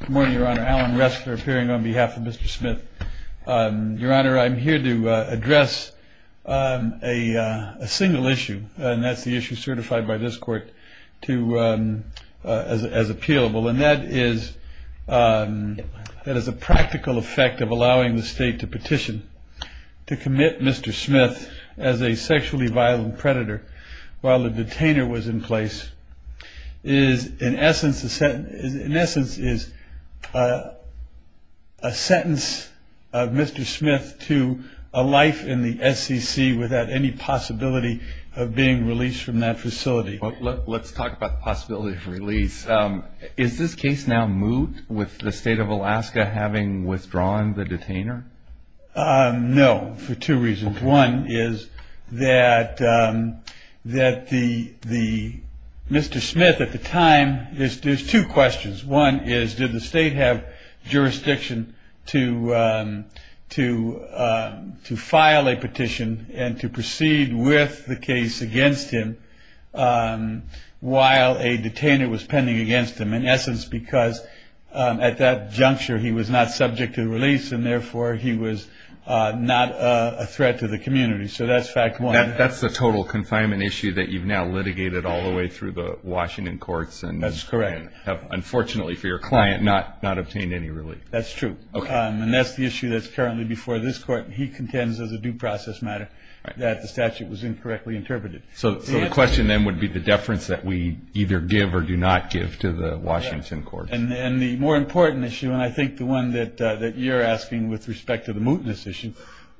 Good morning, Your Honor. Alan Ressler appearing on behalf of Mr. Smith. Your Honor, I'm here to address a single issue, and that's the issue certified by this Court as appealable, and that is a practical effect of allowing the State to petition to commit Mr. Smith as a sexually violent predator while the detainer was in place is, in essence, is a sentence of Mr. Smith to a life in the SEC without any possibility of being released from that facility. Let's talk about the possibility of release. Is this case now moot with the State of Alaska having withdrawn the detainer? No, for two reasons. One is that Mr. Smith at the time, there's two questions. One is did the State have jurisdiction to file a petition and to proceed with the case against him while a detainer was pending against him, in essence because at that juncture he was not subject to release and therefore he was not a threat to the community, so that's fact one. That's the total confinement issue that you've now litigated all the way through the Washington courts. That's correct. Unfortunately for your client, not obtained any relief. That's true, and that's the issue that's currently before this Court. He contends as a due process matter that the statute was incorrectly interpreted. So the question then would be the deference that we either give or do not give to the Washington courts. And the more important issue, and I think the one that you're asking with respect to the mootness issue,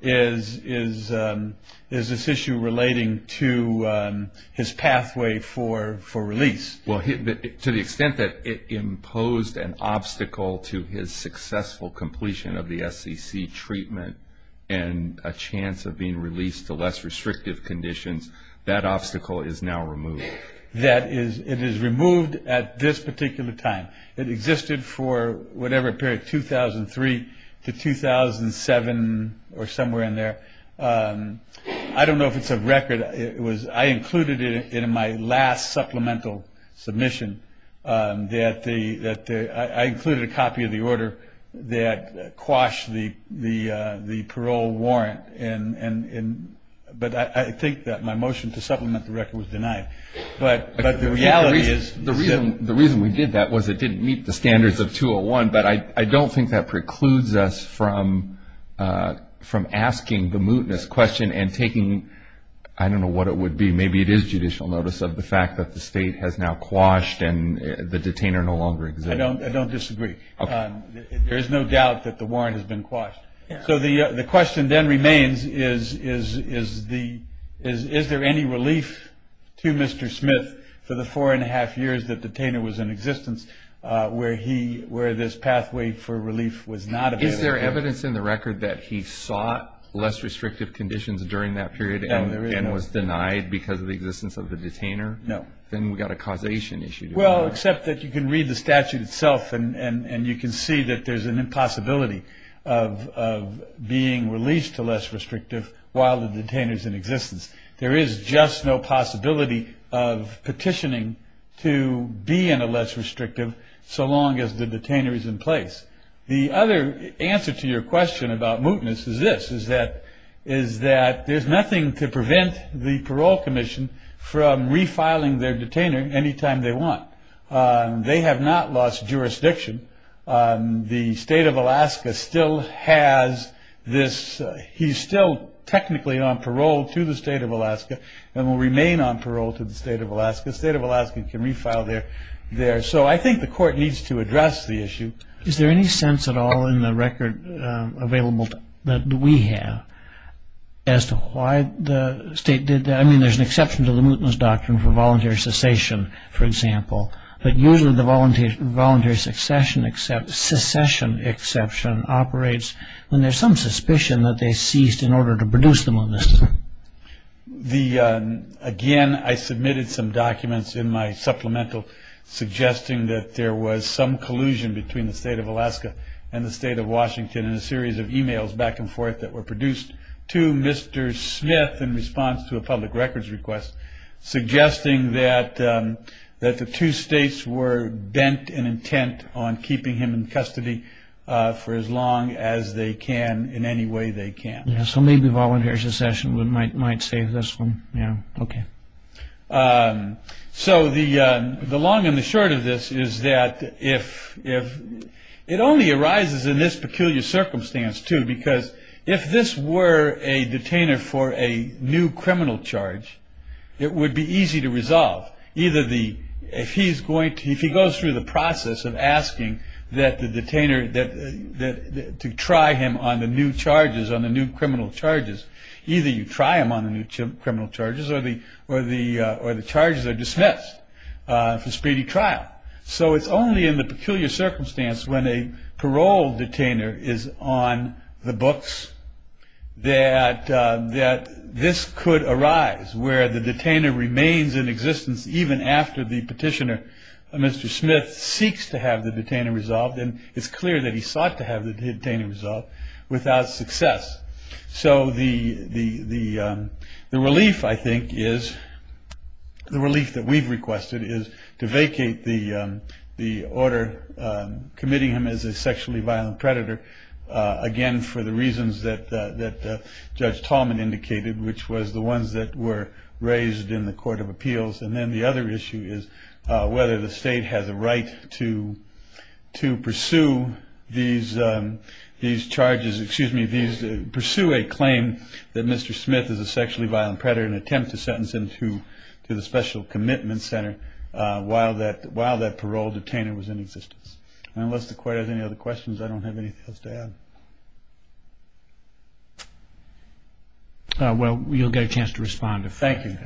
is this issue relating to his pathway for release. Well, to the extent that it imposed an obstacle to his successful completion of the SEC treatment and a chance of being released to less restrictive conditions, that obstacle is now removed. It is removed at this particular time. It existed for whatever period, 2003 to 2007 or somewhere in there. I don't know if it's a record. I included it in my last supplemental submission. I included a copy of the order that quashed the parole warrant, but I think that my motion to supplement the record was denied. But the reality is the reason we did that was it didn't meet the standards of 201, but I don't think that precludes us from asking the mootness question and taking, I don't know what it would be. Maybe it is judicial notice of the fact that the state has now quashed and the detainer no longer exists. I don't disagree. There is no doubt that the warrant has been quashed. So the question then remains is there any relief to Mr. Smith for the four and a half years that the detainer was in existence where this pathway for relief was not available? Is there evidence in the record that he sought less restrictive conditions during that period and was denied because of the existence of the detainer? No. Then we've got a causation issue. Well, except that you can read the statute itself and you can see that there's an impossibility of being released to less restrictive while the detainer is in existence. There is just no possibility of petitioning to be in a less restrictive so long as the detainer is in place. The other answer to your question about mootness is this, is that there's nothing to prevent the parole commission from refiling their detainer any time they want. They have not lost jurisdiction. The state of Alaska still has this. He's still technically on parole to the state of Alaska and will remain on parole to the state of Alaska. The state of Alaska can refile there. So I think the court needs to address the issue. Is there any sense at all in the record available that we have as to why the state did that? I mean, there's an exception to the mootness doctrine for voluntary cessation, for example. But usually the voluntary succession exception operates when there's some suspicion that they ceased in order to produce the mootness. Again, I submitted some documents in my supplemental suggesting that there was some collusion between the state of Alaska and the state of Washington in a series of emails back and forth that were produced to Mr. Smith in response to a public records request, suggesting that the two states were bent in intent on keeping him in custody for as long as they can in any way they can. So maybe voluntary succession might save this one. Yeah. OK. So the long and the short of this is that if it only arises in this peculiar circumstance, too, because if this were a detainer for a new criminal charge, it would be easy to resolve. If he goes through the process of asking that the detainer to try him on the new charges, on the new criminal charges, either you try him on the new criminal charges or the charges are dismissed for speedy trial. So it's only in the peculiar circumstance when a parole detainer is on the books that this could arise, where the detainer remains in existence even after the petitioner, Mr. Smith, seeks to have the detainer resolved. And it's clear that he sought to have the detainer resolved without success. So the relief, I think, is the relief that we've requested is to vacate the the order committing him as a sexually violent predator. Again, for the reasons that Judge Tallman indicated, which was the ones that were raised in the court of appeals. And then the other issue is whether the state has a right to to pursue these these charges. Excuse me. These pursue a claim that Mr. Smith is a sexually violent predator and attempt to sentence him to the special commitment center. While that while that parole detainer was in existence. Unless the court has any other questions, I don't have anything else to add. Well, you'll get a chance to respond. Thank you.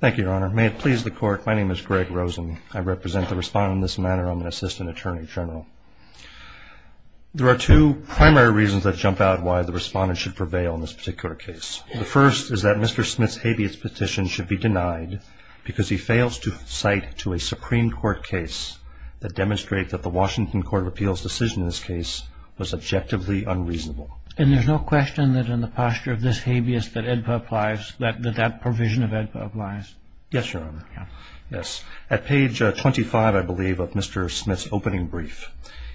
Thank you, Your Honor. May it please the court. My name is Greg Rosen. I represent the respondent in this matter. I'm an assistant attorney general. There are two primary reasons that jump out why the respondent should prevail in this particular case. The first is that Mr. Smith's habeas petition should be denied because he fails to cite to a Supreme Court case that demonstrate that the Washington Court of Appeals decision in this case was objectively unreasonable. And there's no question that in the posture of this habeas that that provision of AEDPA applies. Yes, Your Honor. Yes. At page 25, I believe, of Mr. Smith's opening brief,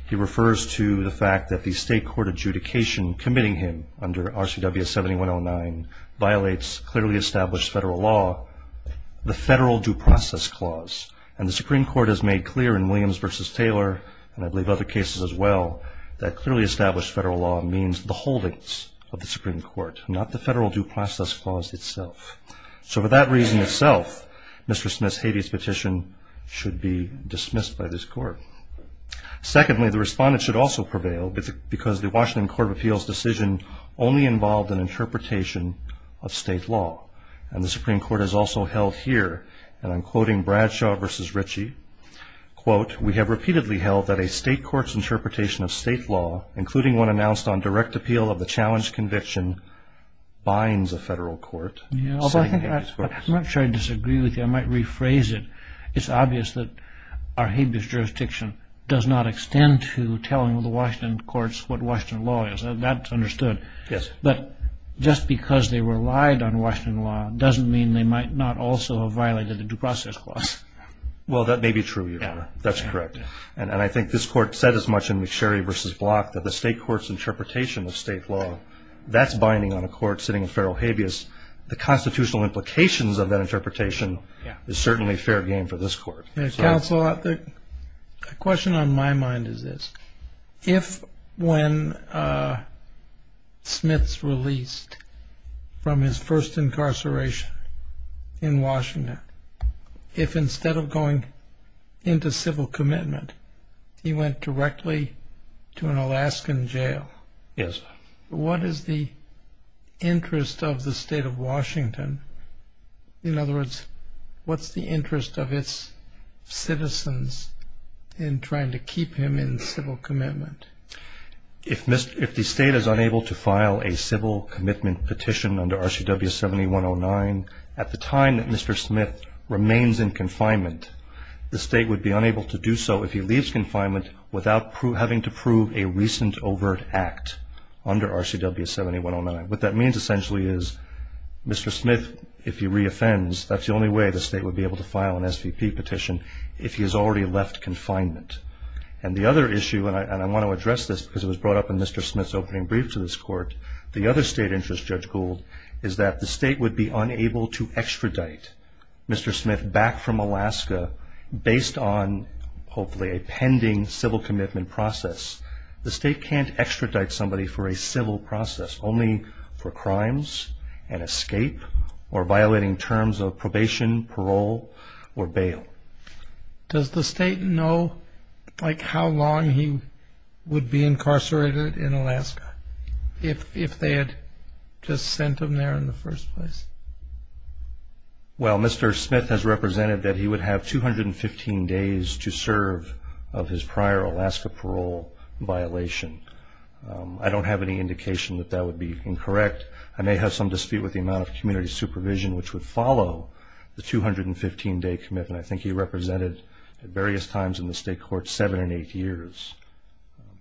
he refers to the fact that the state court adjudication committing him under RCWS 7109 violates clearly established federal law, the federal due process clause. And the Supreme Court has made clear in Williams versus Taylor, and I believe other cases as well, that clearly established federal law means the holdings of the Supreme Court, not the federal due process clause itself. So for that reason itself, Mr. Smith's habeas petition should be dismissed by this court. Secondly, the respondent should also prevail because the Washington Court of Appeals decision only involved an interpretation of state law. And the Supreme Court has also held here, and I'm quoting Bradshaw versus Ritchie, quote, we have repeatedly held that a state court's interpretation of state law, including one announced on direct appeal of the challenge conviction, binds a federal court. I'm not sure I disagree with you. I might rephrase it. It's obvious that our habeas jurisdiction does not extend to telling the Washington courts what Washington law is. That's understood. Yes. But just because they relied on Washington law doesn't mean they might not also have violated the due process clause. Well, that may be true, Your Honor. That's correct. And I think this court said as much in McSherry versus Block that the state court's interpretation of state law, that's binding on a court sitting a federal habeas. The constitutional implications of that interpretation is certainly fair game for this court. Counsel, a question on my mind is this. If when Smith's released from his first incarceration in Washington, if instead of going into civil commitment he went directly to an Alaskan jail, what is the interest of the state of Washington? In other words, what's the interest of its citizens in trying to keep him in civil commitment? If the state is unable to file a civil commitment petition under RCWS 7109, at the time that Mr. Smith remains in confinement, the state would be unable to do so if he leaves confinement without having to prove a recent overt act under RCWS 7109. What that means essentially is Mr. Smith, if he reoffends, that's the only way the state would be able to file an SVP petition if he has already left confinement. And the other issue, and I want to address this because it was brought up in Mr. Smith's opening brief to this court, the other state interest, Judge Gould, is that the state would be unable to extradite Mr. Smith back from Alaska based on, hopefully, a pending civil commitment process. The state can't extradite somebody for a civil process only for crimes, an escape, or violating terms of probation, parole, or bail. Does the state know, like, how long he would be incarcerated in Alaska if they had just sent him there in the first place? Well, Mr. Smith has represented that he would have 215 days to serve of his prior Alaska parole violation. I don't have any indication that that would be incorrect. I may have some dispute with the amount of community supervision which would follow the 215-day commitment. I think he represented at various times in the state court seven and eight years,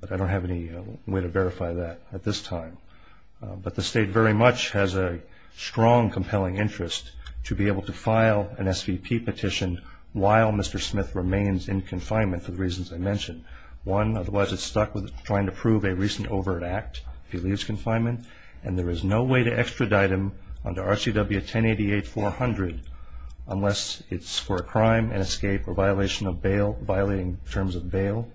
but I don't have any way to verify that at this time. But the state very much has a strong, compelling interest to be able to file an SVP petition while Mr. Smith remains in confinement for the reasons I mentioned. One, otherwise it's stuck with trying to prove a recent overt act if he leaves confinement, and there is no way to extradite him under RCW 1088-400 unless it's for a crime, an escape, or violating terms of bail,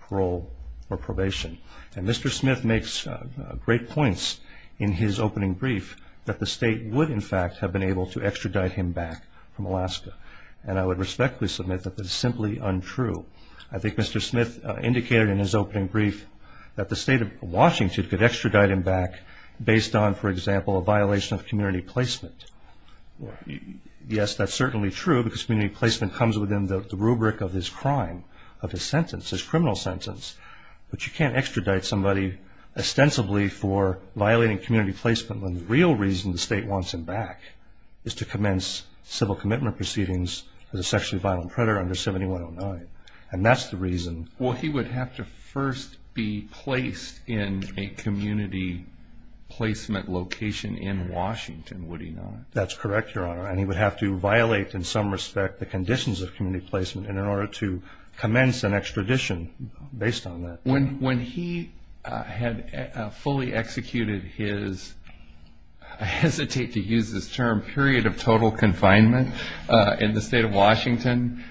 parole, or probation. And Mr. Smith makes great points in his opening brief that the state would, in fact, have been able to extradite him back from Alaska. And I would respectfully submit that that is simply untrue. I think Mr. Smith indicated in his opening brief that the state of Washington could extradite him back based on, for example, a violation of community placement. Yes, that's certainly true because community placement comes within the rubric of his crime, of his sentence, his criminal sentence. But you can't extradite somebody ostensibly for violating community placement when the real reason the state wants him back is to commence civil commitment proceedings for the sexually violent predator under 7109. And that's the reason. Well, he would have to first be placed in a community placement location in Washington, would he not? That's correct, Your Honor. And he would have to violate, in some respect, the conditions of community placement in order to commence an extradition based on that. When he had fully executed his, I hesitate to use this term, period of total confinement in the state of Washington,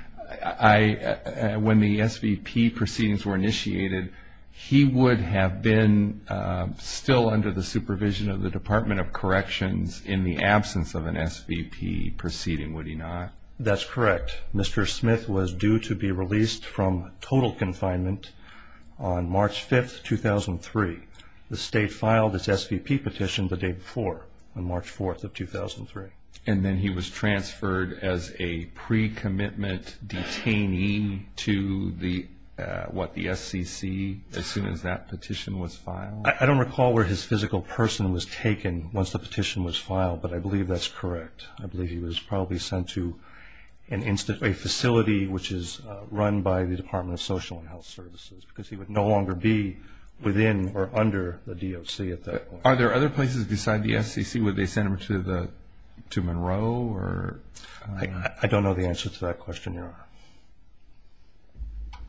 when the SVP proceedings were initiated, he would have been still under the supervision of the Department of Corrections in the absence of an SVP proceeding, would he not? That's correct. Mr. Smith was due to be released from total confinement on March 5th, 2003. The state filed its SVP petition the day before on March 4th of 2003. And then he was transferred as a pre-commitment detainee to the, what, the SCC as soon as that petition was filed? I don't recall where his physical person was taken once the petition was filed, but I believe that's correct. I believe he was probably sent to a facility, which is run by the Department of Social and Health Services, because he would no longer be within or under the DOC at that point. Are there other places beside the SCC where they sent him to Monroe? I don't know the answer to that question, Your Honor.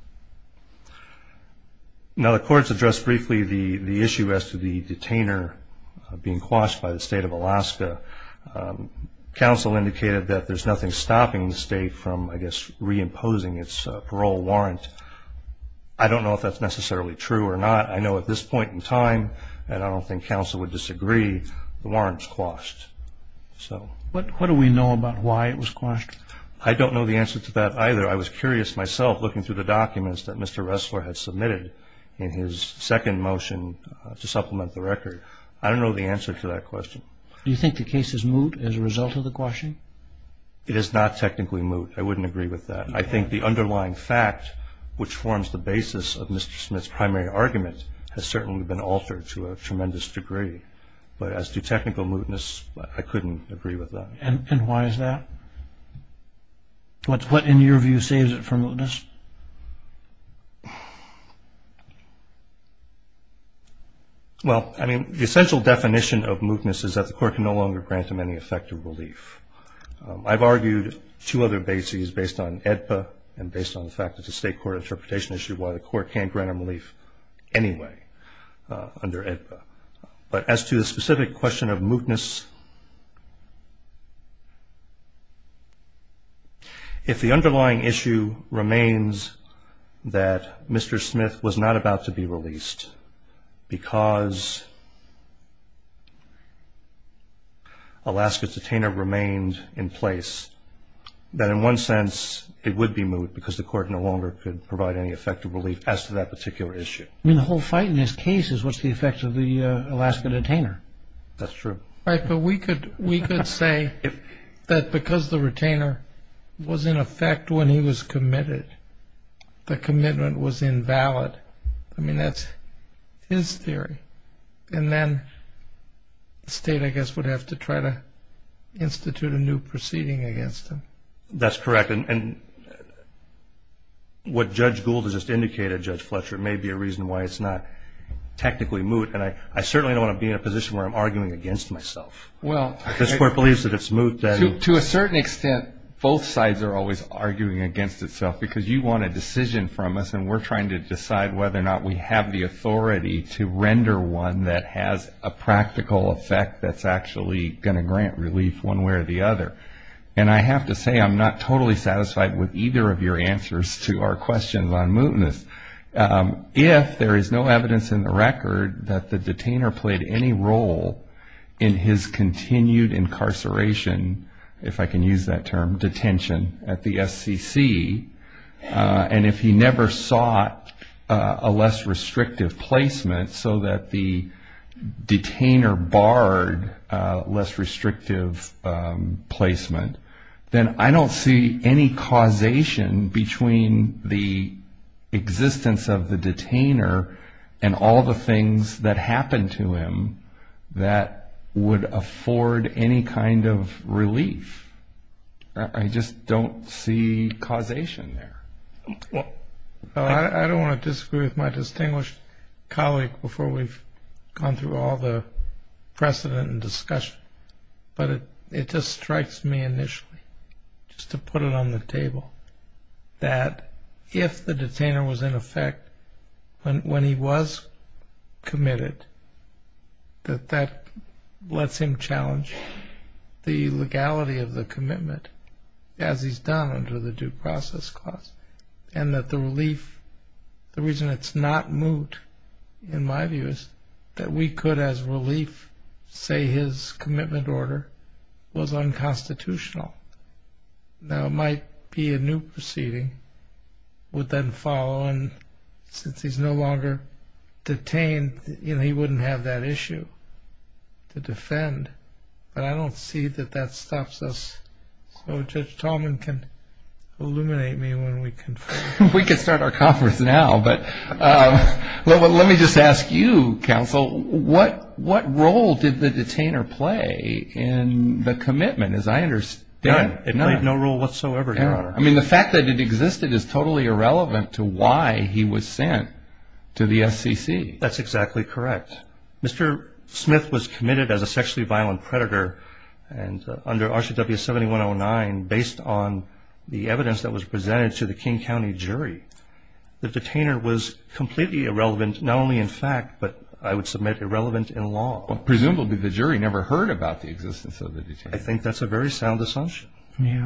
Now, the courts addressed briefly the issue as to the detainer being quashed by the state of Alaska. Counsel indicated that there's nothing stopping the state from, I guess, reimposing its parole warrant. I don't know if that's necessarily true or not. I know at this point in time, and I don't think counsel would disagree, the warrant's quashed. What do we know about why it was quashed? I don't know the answer to that either. I was curious myself looking through the documents that Mr. Ressler had submitted in his second motion to supplement the record. I don't know the answer to that question. Do you think the case is moot as a result of the quashing? It is not technically moot. I wouldn't agree with that. I think the underlying fact, which forms the basis of Mr. Smith's primary argument, has certainly been altered to a tremendous degree. But as to technical mootness, I couldn't agree with that. And why is that? What, in your view, saves it from mootness? Well, I mean, the essential definition of mootness is that the court can no longer grant him any effective relief. I've argued two other bases based on AEDPA and based on the fact that the state court interpretation issued why the court can't grant him relief anyway under AEDPA. But as to the specific question of mootness, if the underlying issue remains that Mr. Smith was not about to be released because Alaska's detainer remained in place, then in one sense it would be moot because the court no longer could provide any effective relief as to that particular issue. I mean, the whole fight in this case is what's the effect of the Alaska detainer. That's true. Right, but we could say that because the retainer was in effect when he was committed, the commitment was invalid. I mean, that's his theory. And then the state, I guess, would have to try to institute a new proceeding against him. That's correct. And what Judge Gould has just indicated, Judge Fletcher, may be a reason why it's not technically moot. And I certainly don't want to be in a position where I'm arguing against myself. If the court believes that it's moot, then. To a certain extent, both sides are always arguing against itself because you want a decision from us, and we're trying to decide whether or not we have the authority to render one that has a practical effect that's actually going to grant relief one way or the other. And I have to say I'm not totally satisfied with either of your answers to our questions on mootness. If there is no evidence in the record that the detainer played any role in his continued incarceration, if I can use that term, detention at the SCC, and if he never sought a less restrictive placement so that the detainer barred less restrictive placement, then I don't see any causation between the existence of the detainer and all the things that happened to him that would afford any kind of relief. I just don't see causation there. I don't want to disagree with my distinguished colleague before we've gone through all the precedent and discussion, but it just strikes me initially, just to put it on the table, that if the detainer was in effect when he was committed, that that lets him challenge the legality of the commitment as he's done under the Due Process Clause. And that the relief, the reason it's not moot, in my view, is that we could as relief say his commitment order was unconstitutional. Now, it might be a new proceeding would then follow, and since he's no longer detained, he wouldn't have that issue to defend, but I don't see that that stops us. So Judge Tallman can illuminate me when we confer. We can start our conference now, but let me just ask you, Counsel, what role did the detainer play in the commitment, as I understand? None. It played no role whatsoever, Your Honor. I mean, the fact that it existed is totally irrelevant to why he was sent to the SEC. That's exactly correct. Mr. Smith was committed as a sexually violent predator under RCWS 7109 based on the evidence that was presented to the King County jury. The detainer was completely irrelevant, not only in fact, but I would submit irrelevant in law. Presumably the jury never heard about the existence of the detainer. I think that's a very sound assumption.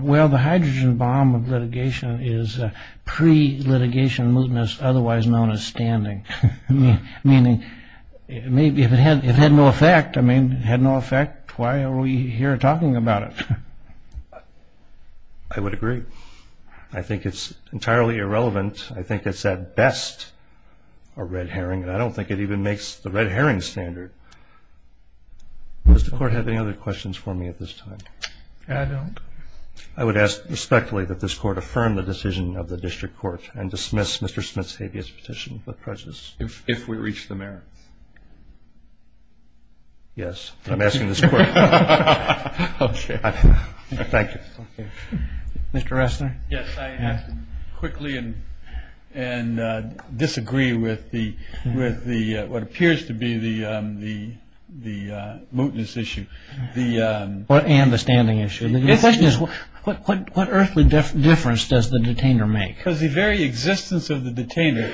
Well, the hydrogen bomb of litigation is pre-litigation mootness, otherwise known as standing, meaning if it had no effect, I mean, had no effect, why are we here talking about it? I would agree. I think it's entirely irrelevant. I think it's at best a red herring, and I don't think it even makes the red herring standard. Does the Court have any other questions for me at this time? I don't. I would ask respectfully that this Court affirm the decision of the District Court and dismiss Mr. Smith's habeas petition with prejudice. If we reach the merits. Yes. I'm asking this Court. Okay. Thank you. Mr. Ressner? Yes, I have to quickly disagree with what appears to be the mootness issue. And the standing issue. The question is what earthly difference does the detainer make? Because the very existence of the detainer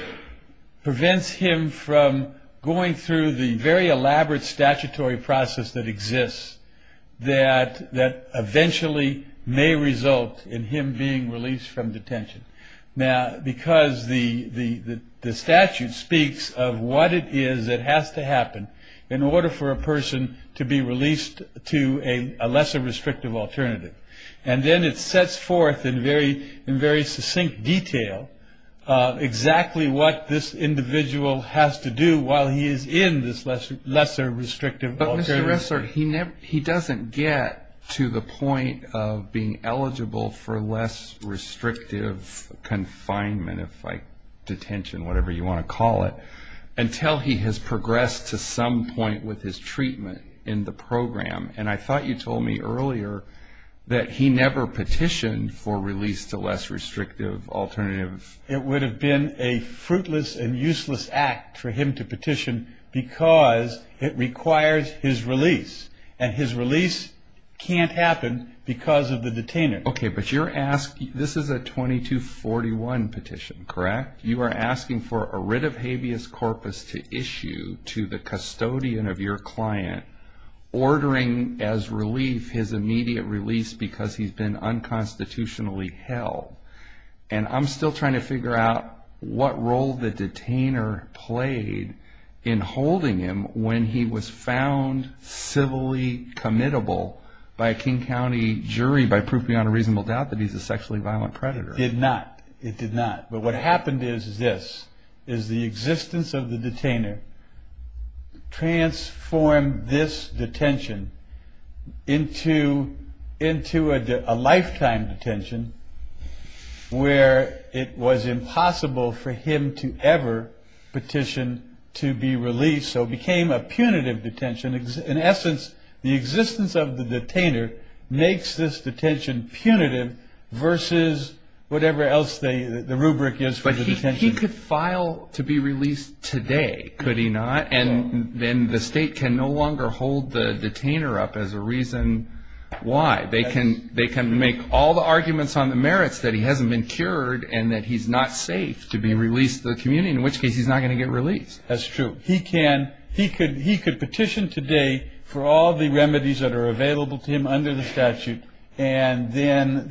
prevents him from going through the very elaborate statutory process that exists that eventually may result in him being released from detention. Now, because the statute speaks of what it is that has to happen in order for a person to be released to a lesser restrictive alternative. And then it sets forth in very succinct detail exactly what this individual has to do while he is in this lesser restrictive alternative. But, Mr. Ressner, he doesn't get to the point of being eligible for less restrictive confinement, detention, whatever you want to call it, until he has progressed to some point with his treatment in the program. And I thought you told me earlier that he never petitioned for release to less restrictive alternative. It would have been a fruitless and useless act for him to petition because it requires his release. And his release can't happen because of the detainer. Okay. But you're asking, this is a 2241 petition, correct? You are asking for a writ of habeas corpus to issue to the custodian of your client, ordering as relief his immediate release because he's been unconstitutionally held. And I'm still trying to figure out what role the detainer played in holding him when he was found civilly committable by a King County jury by proof beyond a reasonable doubt that he's a sexually violent predator. It did not. It did not. But what happened is this, is the existence of the detainer transformed this detention into a lifetime detention where it was impossible for him to ever petition to be released. So it became a punitive detention. In essence, the existence of the detainer makes this detention punitive versus whatever else the rubric is for the detention. But he could file to be released today, could he not? And then the state can no longer hold the detainer up as a reason why. They can make all the arguments on the merits that he hasn't been cured and that he's not safe to be released to the community, in which case he's not going to get released. That's true. He could petition today for all the remedies that are available to him under the statute and then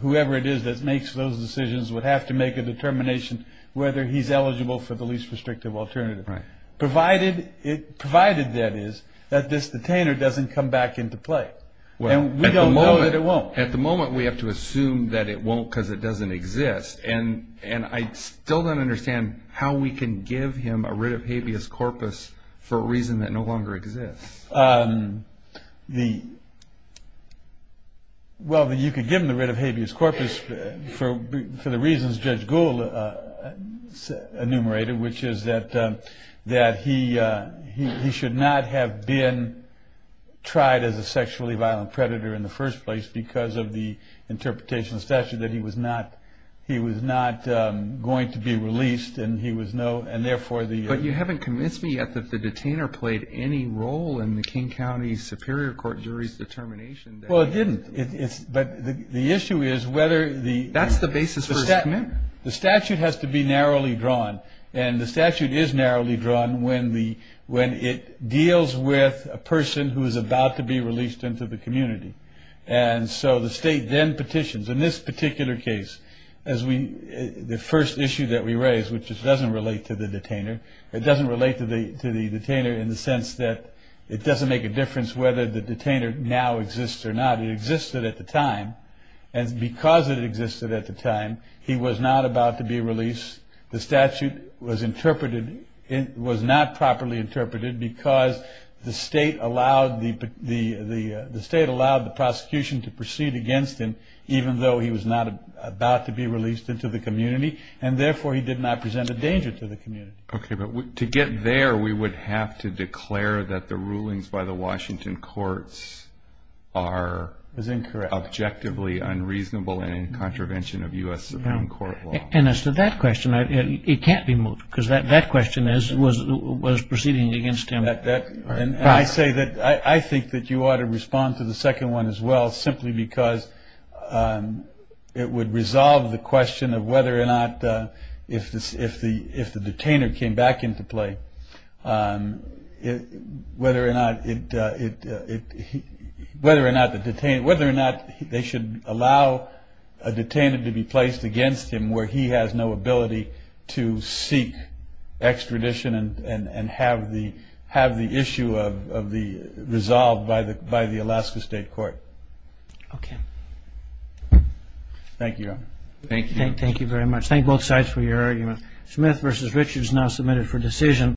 whoever it is that makes those decisions would have to make a determination whether he's eligible for the least restrictive alternative. Provided, that is, that this detainer doesn't come back into play. And we don't know that it won't. At the moment we have to assume that it won't because it doesn't exist. And I still don't understand how we can give him a writ of habeas corpus for a reason that no longer exists. Well, you could give him the writ of habeas corpus for the reasons Judge Gould enumerated, which is that he should not have been tried as a sexually violent predator in the first place because of the interpretation of the statute that he was not going to be released. But you haven't convinced me yet that the detainer played any role in the King County Superior Court jury's determination. Well, it didn't. The statute has to be narrowly drawn, and the statute is narrowly drawn when it deals with a person who is about to be released into the community. And so the state then petitions. In this particular case, the first issue that we raise, which doesn't relate to the detainer, it doesn't relate to the detainer in the sense that it doesn't make a difference whether the detainer now exists or not. It existed at the time. And because it existed at the time, he was not about to be released. The statute was not properly interpreted because the state allowed the prosecution to proceed against him even though he was not about to be released into the community, and therefore he did not present a danger to the community. Okay, but to get there, we would have to declare that the rulings by the Washington courts are objectively unreasonable and in contravention of U.S. Supreme Court law. And as to that question, it can't be moved because that question was proceeding against him. And I say that I think that you ought to respond to the second one as well simply because it would resolve the question of whether or not, if the detainer came back into play, whether or not they should allow a detainer to be placed against him where he has no ability to seek extradition and have the issue resolved by the Alaska State Court. Thank you, Your Honor. Thank you. Thank you very much. Thank both sides for your arguments. Smith v. Richards now submitted for decision.